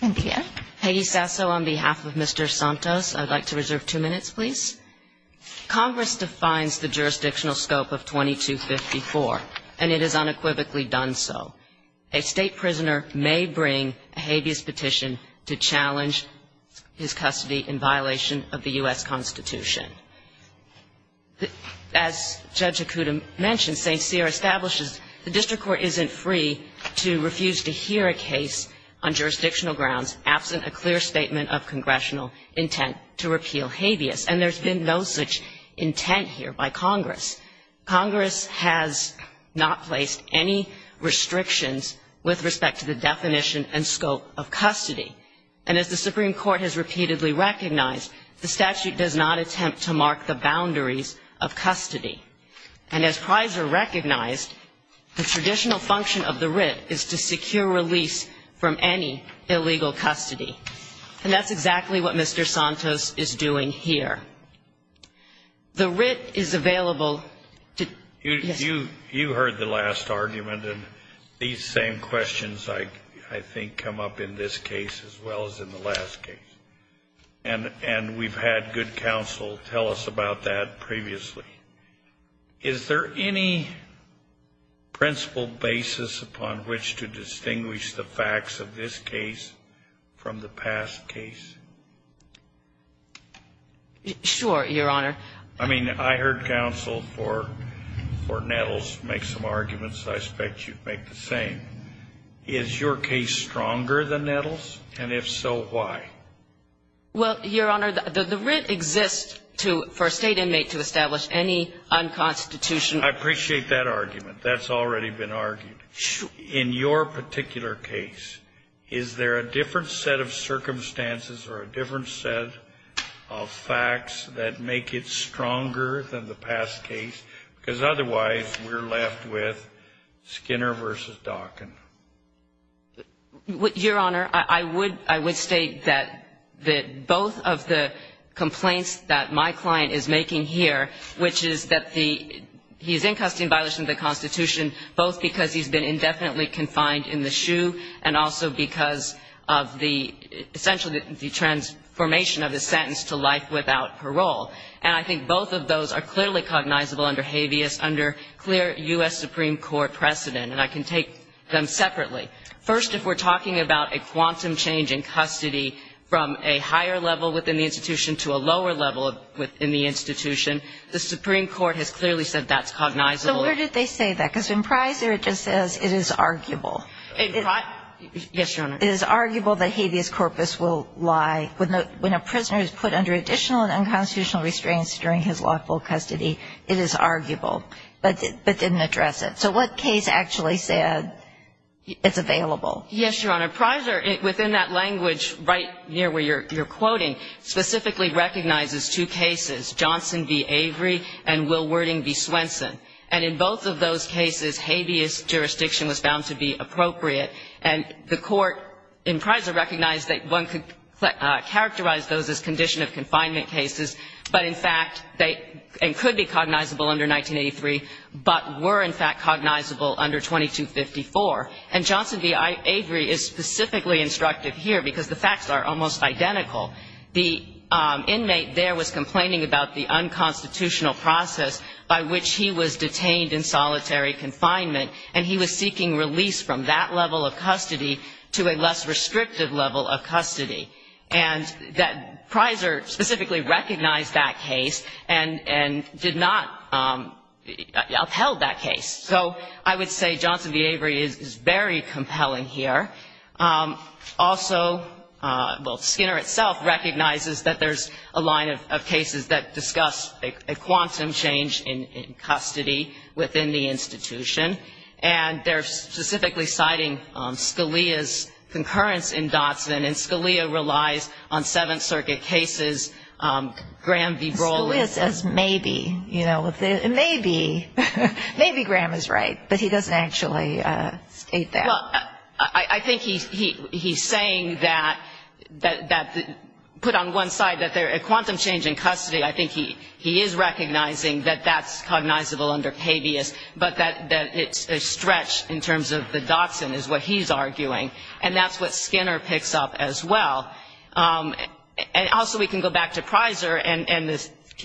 Congress defines the jurisdictional scope of 2254 and it is unequivocally done so. A state prisoner may bring a habeas petition to challenge his custody in violation of the U.S. Constitution. As Judge Okuda mentioned, St. Cyr establishes the district court isn't free to refuse to hear a case on jurisdictional grounds absent a clear statement of congressional intent to repeal habeas. And there's been no such intent here by Congress. Congress has not placed any restrictions with respect to the definition and scope of custody. And as the Supreme Court has repeatedly recognized, the statute does not attempt to mark the boundaries of custody. And as Pizer recognized, the traditional function of the writ is to secure release from any illegal custody. And that's exactly what Mr. Santos is doing here. The writ is available to – And we've had good counsel tell us about that previously. Is there any principle basis upon which to distinguish the facts of this case from the past case? Sure, Your Honor. I mean, I heard counsel for Nettles make some arguments I expect you'd make the same. Is your case stronger than Nettles? And if so, why? Well, Your Honor, the writ exists for a state inmate to establish any unconstitutional – Your Honor, I would – I would state that both of the complaints that my client is making here, which is that the – he's in custody in violation of the Constitution, both because he's been indefinitely confined in the SHU and also because of the – essentially the transformation of his sentence to life without parole. And I think both of those are clearly cognizable under habeas, under clear U.S. Supreme Court precedent. And I can take them separately. First, if we're talking about a quantum change in custody from a higher level within the institution to a lower level within the institution, the Supreme Court has clearly said that's cognizable. So where did they say that? Because in Pizer it just says it is arguable. In – yes, Your Honor. It is arguable that habeas corpus will lie when a prisoner is put under additional and unconstitutional restraints during his lawful custody. It is arguable. But didn't address it. So what case actually said it's available? Yes, Your Honor. Pizer, within that language right near where you're quoting, specifically recognizes two cases, Johnson v. Avery and Wilwording v. Swenson. And in both of those cases, habeas jurisdiction was found to be appropriate. And the court in Pizer recognized that one could characterize those as condition of confinement cases, but in fact they – and could be cognizable under 1983, but were in fact cognizable under 2254. And Johnson v. Avery is specifically instructive here because the facts are almost identical. The inmate there was complaining about the unconstitutional process by which he was detained in solitary confinement, and he was seeking release from that level of custody to a less restrictive level of custody. And that – Pizer specifically recognized that case and did not upheld that case. So I would say Johnson v. Avery is very compelling here. Also, well, Skinner itself recognizes that there's a line of cases that discuss a quantum change in custody within the institution. And they're specifically citing Scalia's concurrence in Dotson, and Scalia relies on Seventh Circuit cases. Graham v. Brolin. Scalia says maybe, you know, maybe. Maybe Graham is right, but he doesn't actually state that. Well, I think he's saying that – put on one side that there – a quantum change in custody, I think he is recognizing that that's cognizable under habeas, but that it's a stretch in terms of the Dotson is what he's arguing. And that's what Skinner picks up as well. And also we can go back to Pizer, and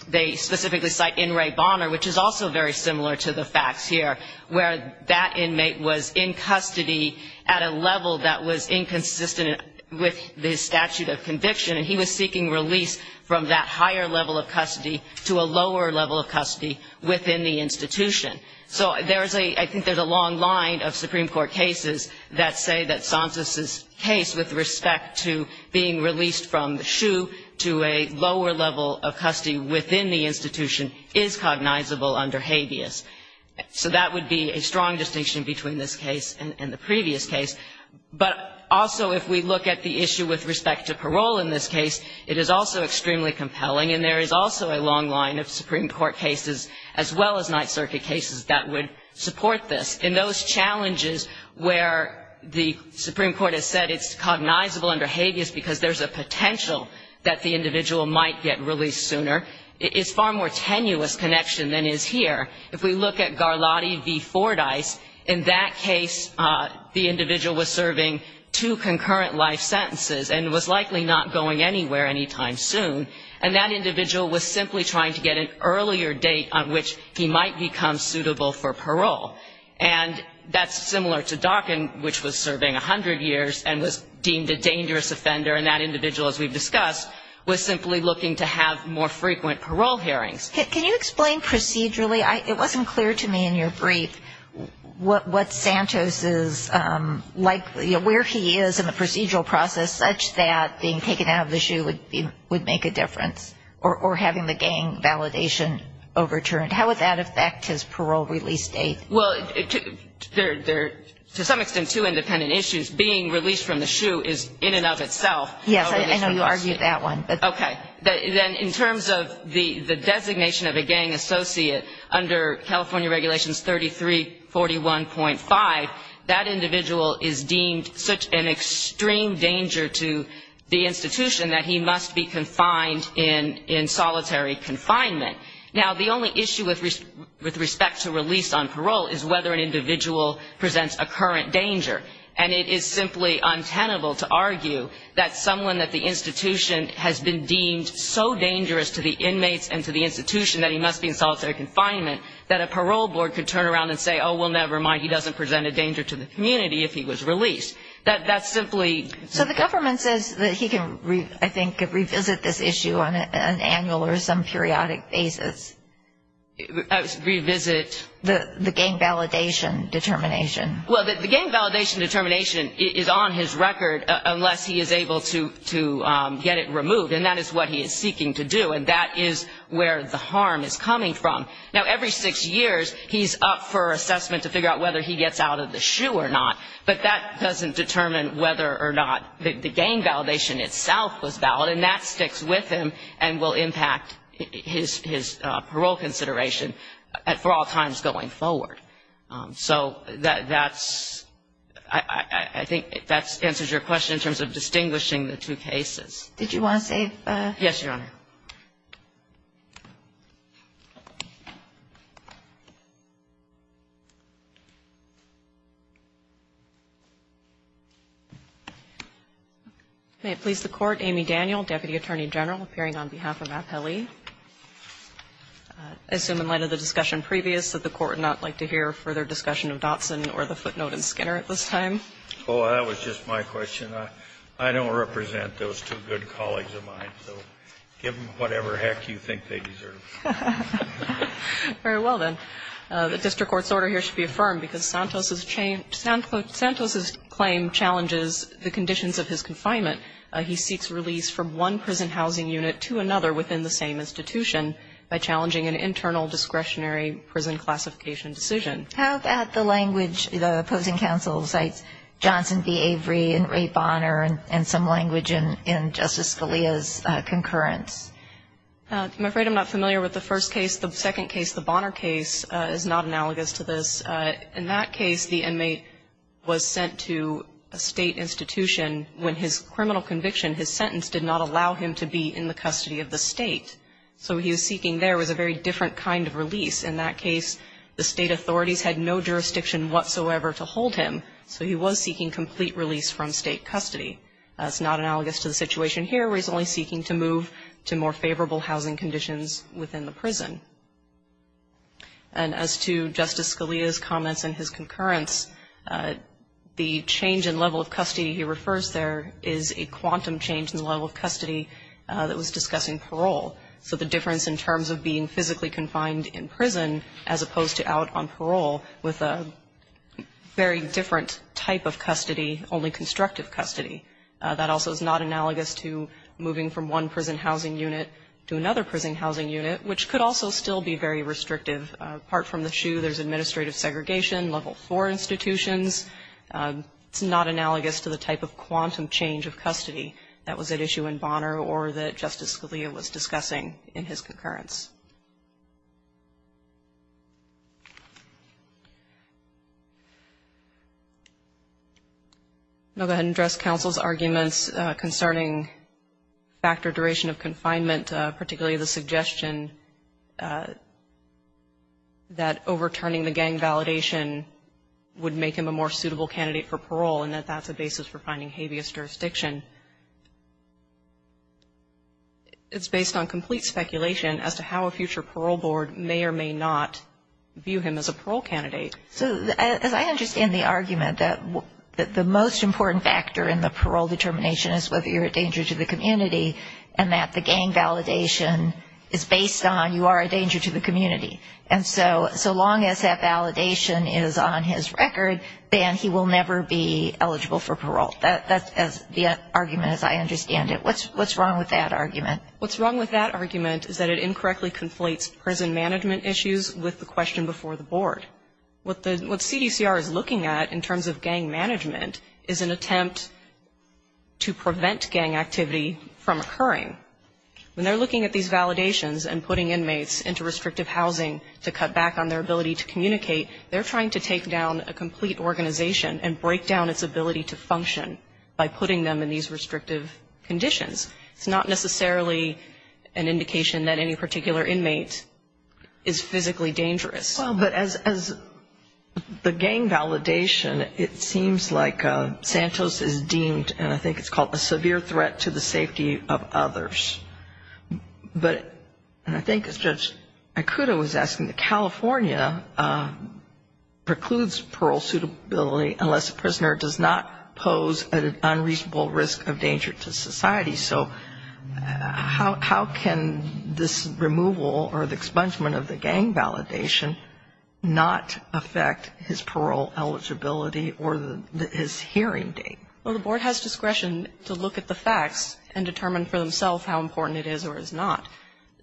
they specifically cite N. Ray Bonner, which is also very similar to the facts here, where that inmate was in custody at a level that was inconsistent with the statute of conviction, and he was seeking release from that higher level of custody to a lower level of custody within the institution. So there's a – I think there's a long line of Supreme Court cases that say that Sonsis' case with respect to being released from the SHU to a lower level of custody within the institution is cognizable under habeas. So that would be a strong distinction between this case and the previous case. But also if we look at the issue with respect to parole in this case, it is also extremely compelling, and there is also a long line of Supreme Court cases as well as Ninth Circuit cases that would support this. In those challenges where the Supreme Court has said it's cognizable under habeas because there's a potential that the individual might get released sooner, it's far more tenuous connection than is here. If we look at Garlotti v. Fordyce, in that case the individual was serving two concurrent life sentences and was likely not going anywhere anytime soon, and that individual was simply trying to get an earlier date on which he might become suitable for parole. And that's similar to Darkin, which was serving 100 years and was deemed a dangerous offender, and that individual, as we've discussed, was simply looking to have more frequent parole hearings. Can you explain procedurally? It wasn't clear to me in your brief what Santos is – where he is in the procedural process such that being taken out of the SHU would make a difference, or having the gang validation overturned. How would that affect his parole release date? Well, there are, to some extent, two independent issues. Being released from the SHU is in and of itself – Yes, I know you argued that one. Okay. Then in terms of the designation of a gang associate, under California Regulations 3341.5, that individual is deemed such an extreme danger to the institution that he must be confined in solitary confinement. Now, the only issue with respect to release on parole is whether an individual presents a current danger. And it is simply untenable to argue that someone at the institution has been deemed so dangerous to the inmates and to the institution that he must be in solitary confinement that a parole board could turn around and say, oh, well, never mind, he doesn't present a danger to the community if he was released. That's simply – So the government says that he can, I think, revisit this issue on an annual or some periodic basis. Revisit – The gang validation determination. Well, the gang validation determination is on his record unless he is able to get it removed, and that is what he is seeking to do, and that is where the harm is coming from. Now, every six years, he's up for assessment to figure out whether he gets out of the shoe or not, but that doesn't determine whether or not the gang validation itself was valid, and that sticks with him and will impact his parole consideration for all times going forward. So that's – I think that answers your question in terms of distinguishing the two cases. Did you want to say – Yes, Your Honor. May it please the Court, Amy Daniel, Deputy Attorney General, appearing on behalf of Appellee. I assume in light of the discussion previous that the Court would not like to hear a further discussion of Dotson or the footnote in Skinner at this time. Oh, that was just my question. I don't represent those two good colleagues of mine. So give them whatever heck you think they deserve. Very well, then. The district court's order here should be affirmed because Santos' claim challenges the conditions of his confinement. He seeks release from one prison housing unit to another within the same institution by challenging an internal discretionary prison classification decision. How about the language the opposing counsel cites, Johnson v. Avery and Ray Bonner, and some language in Justice Scalia's concurrence? I'm afraid I'm not familiar with the first case. The second case, the Bonner case, is not analogous to this. In that case, the inmate was sent to a state institution when his criminal conviction, his sentence, did not allow him to be in the custody of the state. So what he was seeking there was a very different kind of release. In that case, the state authorities had no jurisdiction whatsoever to hold him, so he was seeking complete release from state custody. That's not analogous to the situation here where he's only seeking to move to more favorable housing conditions within the prison. And as to Justice Scalia's comments in his concurrence, the change in level of custody he refers there is a quantum change in the level of custody that was discussing parole. So the difference in terms of being physically confined in prison as opposed to out on parole with a very different type of custody, only constructive custody, that also is not analogous to moving from one prison housing unit to another prison housing unit, which could also still be very restrictive. Apart from the SHU, there's administrative segregation, level IV institutions. It's not analogous to the type of quantum change of custody that was at issue in Bonner or that Justice Scalia was discussing in his concurrence. I'm going to go ahead and address counsel's arguments concerning factor duration of confinement, particularly the suggestion that overturning the gang validation would make him a more suitable candidate for parole and that that's a basis for finding habeas jurisdiction. It's based on complete speculation as to how a future parole board may or may not view him as a parole candidate. So as I understand the argument that the most important factor in the parole determination is whether you're a danger to the community and that the gang validation is based on you are a danger to the community. And so long as that validation is on his record, then he will never be eligible for parole. That's the argument as I understand it. What's wrong with that argument? What's wrong with that argument is that it incorrectly conflates prison management issues with the question before the board. What CDCR is looking at in terms of gang management is an attempt to prevent gang activity from occurring. When they're looking at these validations and putting inmates into restrictive housing to cut back on their ability to communicate, they're trying to take down a complete organization and break down its ability to function by putting them in these restrictive conditions. It's not necessarily an indication that any particular inmate is physically dangerous. Well, but as the gang validation, it seems like Santos is deemed, and I think it's called, a severe threat to the safety of others. But, and I think as Judge Ikuto was asking, California precludes parole suitability unless a prisoner does not pose an unreasonable risk of danger to society. So how can this removal or the expungement of the gang validation not affect his parole eligibility or his hearing date? Well, the board has discretion to look at the facts and determine for themselves how important it is or is not.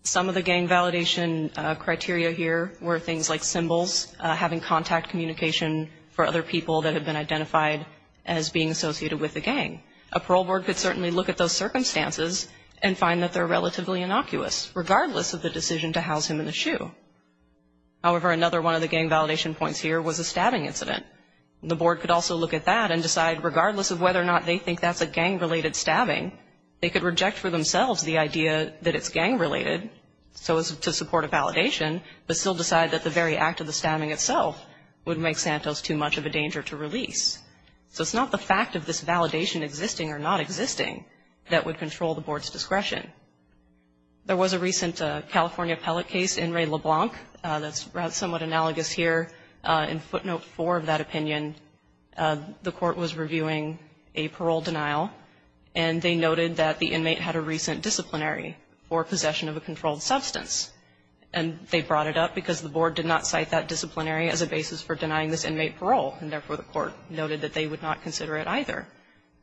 Some of the gang validation criteria here were things like symbols, having contact communication for other people that had been identified as being associated with the gang. A parole board could certainly look at those circumstances and find that they're relatively innocuous, regardless of the decision to house him in the SHU. However, another one of the gang validation points here was a stabbing incident. The board could also look at that and decide, regardless of whether or not they think that's a gang-related stabbing, they could reject for themselves the idea that it's gang-related, so as to support a validation, but still decide that the very act of the stabbing itself would make Santos too much of a danger to release. So it's not the fact of this validation existing or not existing that would control the board's discretion. There was a recent California appellate case, In re LeBlanc, that's somewhat analogous here. In footnote 4 of that opinion, the court was reviewing a parole denial, and they noted that the inmate had a recent disciplinary for possession of a controlled substance. And they brought it up because the board did not cite that disciplinary as a basis for denying this inmate parole, and therefore the court noted that they would not consider it either.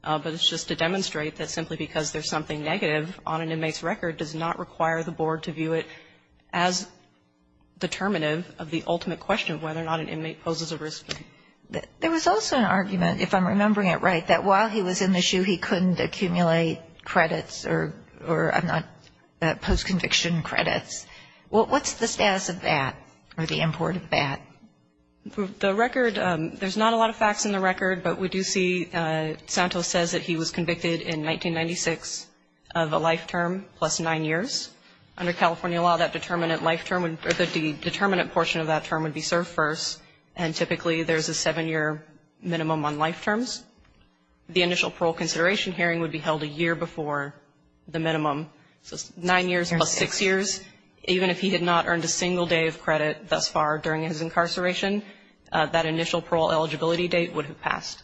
But it's just to demonstrate that simply because there's something negative on an inmate's record does not require the board to view it as determinative of the ultimate question of whether or not an inmate poses a risk. There was also an argument, if I'm remembering it right, that while he was in the SHU he couldn't accumulate credits or post-conviction credits. What's the status of that or the import of that? The record, there's not a lot of facts in the record, but we do see Santos says that he was convicted in 1996 of a life term plus nine years. Under California law, that determinant life term, the determinant portion of that term would be served first, and typically there's a seven-year minimum on life terms. The initial parole consideration hearing would be held a year before the minimum, so nine years plus six years. Even if he had not earned a single day of credit thus far during his incarceration, that initial parole eligibility date would have passed.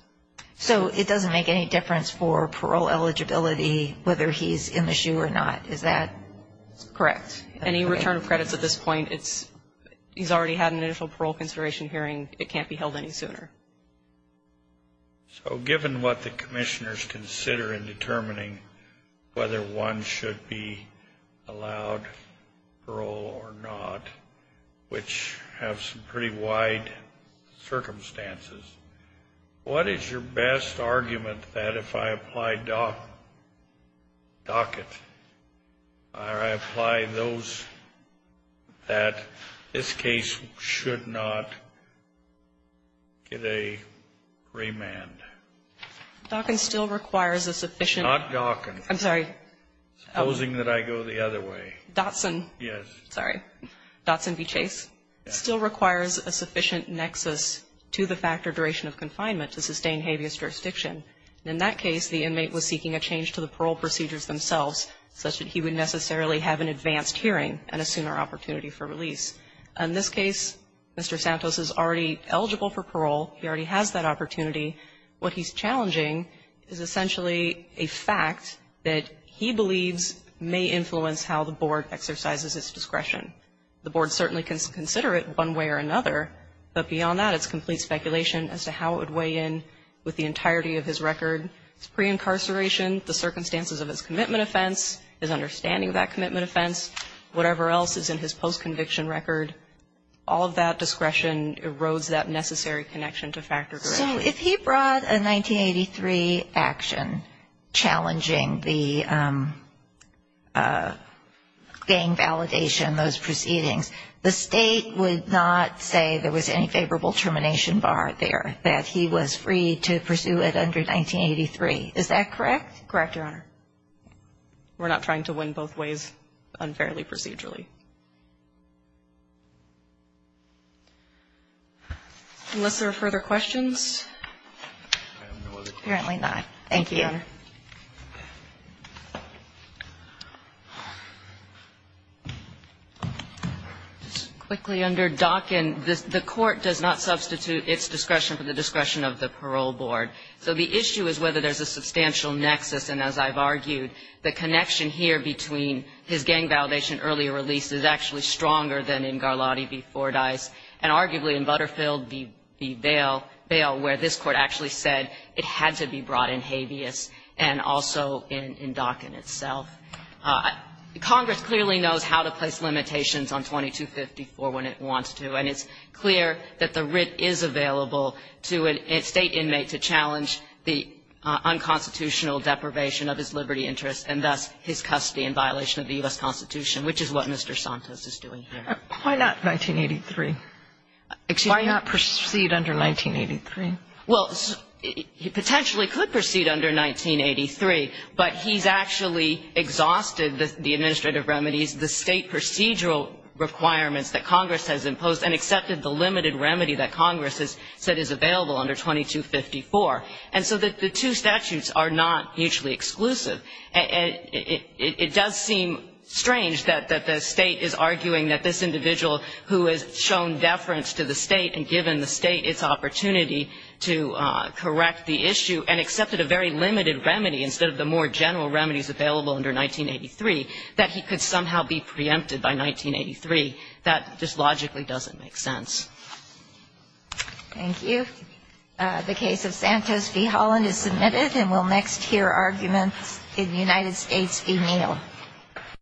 So it doesn't make any difference for parole eligibility whether he's in the SHU or not, is that correct? Any return of credits at this point, he's already had an initial parole consideration hearing. It can't be held any sooner. So given what the commissioners consider in determining whether one should be allowed parole or not, which have some pretty wide circumstances, what is your best argument that if I apply Dockett, or I apply those that this case should not get a remand? Dockett still requires a sufficient. Not Dockett. I'm sorry. Supposing that I go the other way. Dotson. Yes. Sorry. Dotson v. Chase still requires a sufficient nexus to the factor duration of confinement to sustain habeas jurisdiction. In that case, the inmate was seeking a change to the parole procedures themselves such that he would necessarily have an advanced hearing and a sooner opportunity for release. In this case, Mr. Santos is already eligible for parole. He already has that opportunity. What he's challenging is essentially a fact that he believes may influence how the board exercises its discretion. The board certainly can consider it one way or another. But beyond that, it's complete speculation as to how it would weigh in with the entirety of his record, his pre-incarceration, the circumstances of his commitment offense, his understanding of that commitment offense, whatever else is in his post-conviction record. All of that discretion erodes that necessary connection to factor duration. So if he brought a 1983 action challenging the gang validation, those proceedings, the State would not say there was any favorable termination bar there, that he was free to pursue it under 1983. Is that correct? Correct, Your Honor. We're not trying to win both ways unfairly procedurally. Unless there are further questions. Apparently not. Thank you, Your Honor. Just quickly under Dockin, the court does not substitute its discretion for the discretion of the parole board. So the issue is whether there's a substantial nexus. And as I've argued, the connection here between his gang validation earlier release is actually stronger than in Garlotti v. Fordyce and arguably in Butterfield v. Bale, where this Court actually said it had to be brought in habeas and also in Dockin itself. Congress clearly knows how to place limitations on 2254 when it wants to. And it's clear that the writ is available to a State inmate to challenge the unconstitutional deprivation of his liberty interests and thus his custody in violation of the U.S. Constitution, which is what Mr. Santos is doing here. Why not 1983? Why not proceed under 1983? Well, he potentially could proceed under 1983, but he's actually exhausted the administrative remedies, the State procedural requirements that Congress has imposed and accepted the limited remedy that Congress has said is available under 2254. And so the two statutes are not mutually exclusive. And it does seem strange that the State is arguing that this individual who has shown deference to the State and given the State its opportunity to correct the issue and accepted a very limited remedy instead of the more general remedies available under 1983, that he could somehow be preempted by 1983. That just logically doesn't make sense. Thank you. The case of Santos v. Holland is submitted. And we'll next hear arguments in United States v. Neal.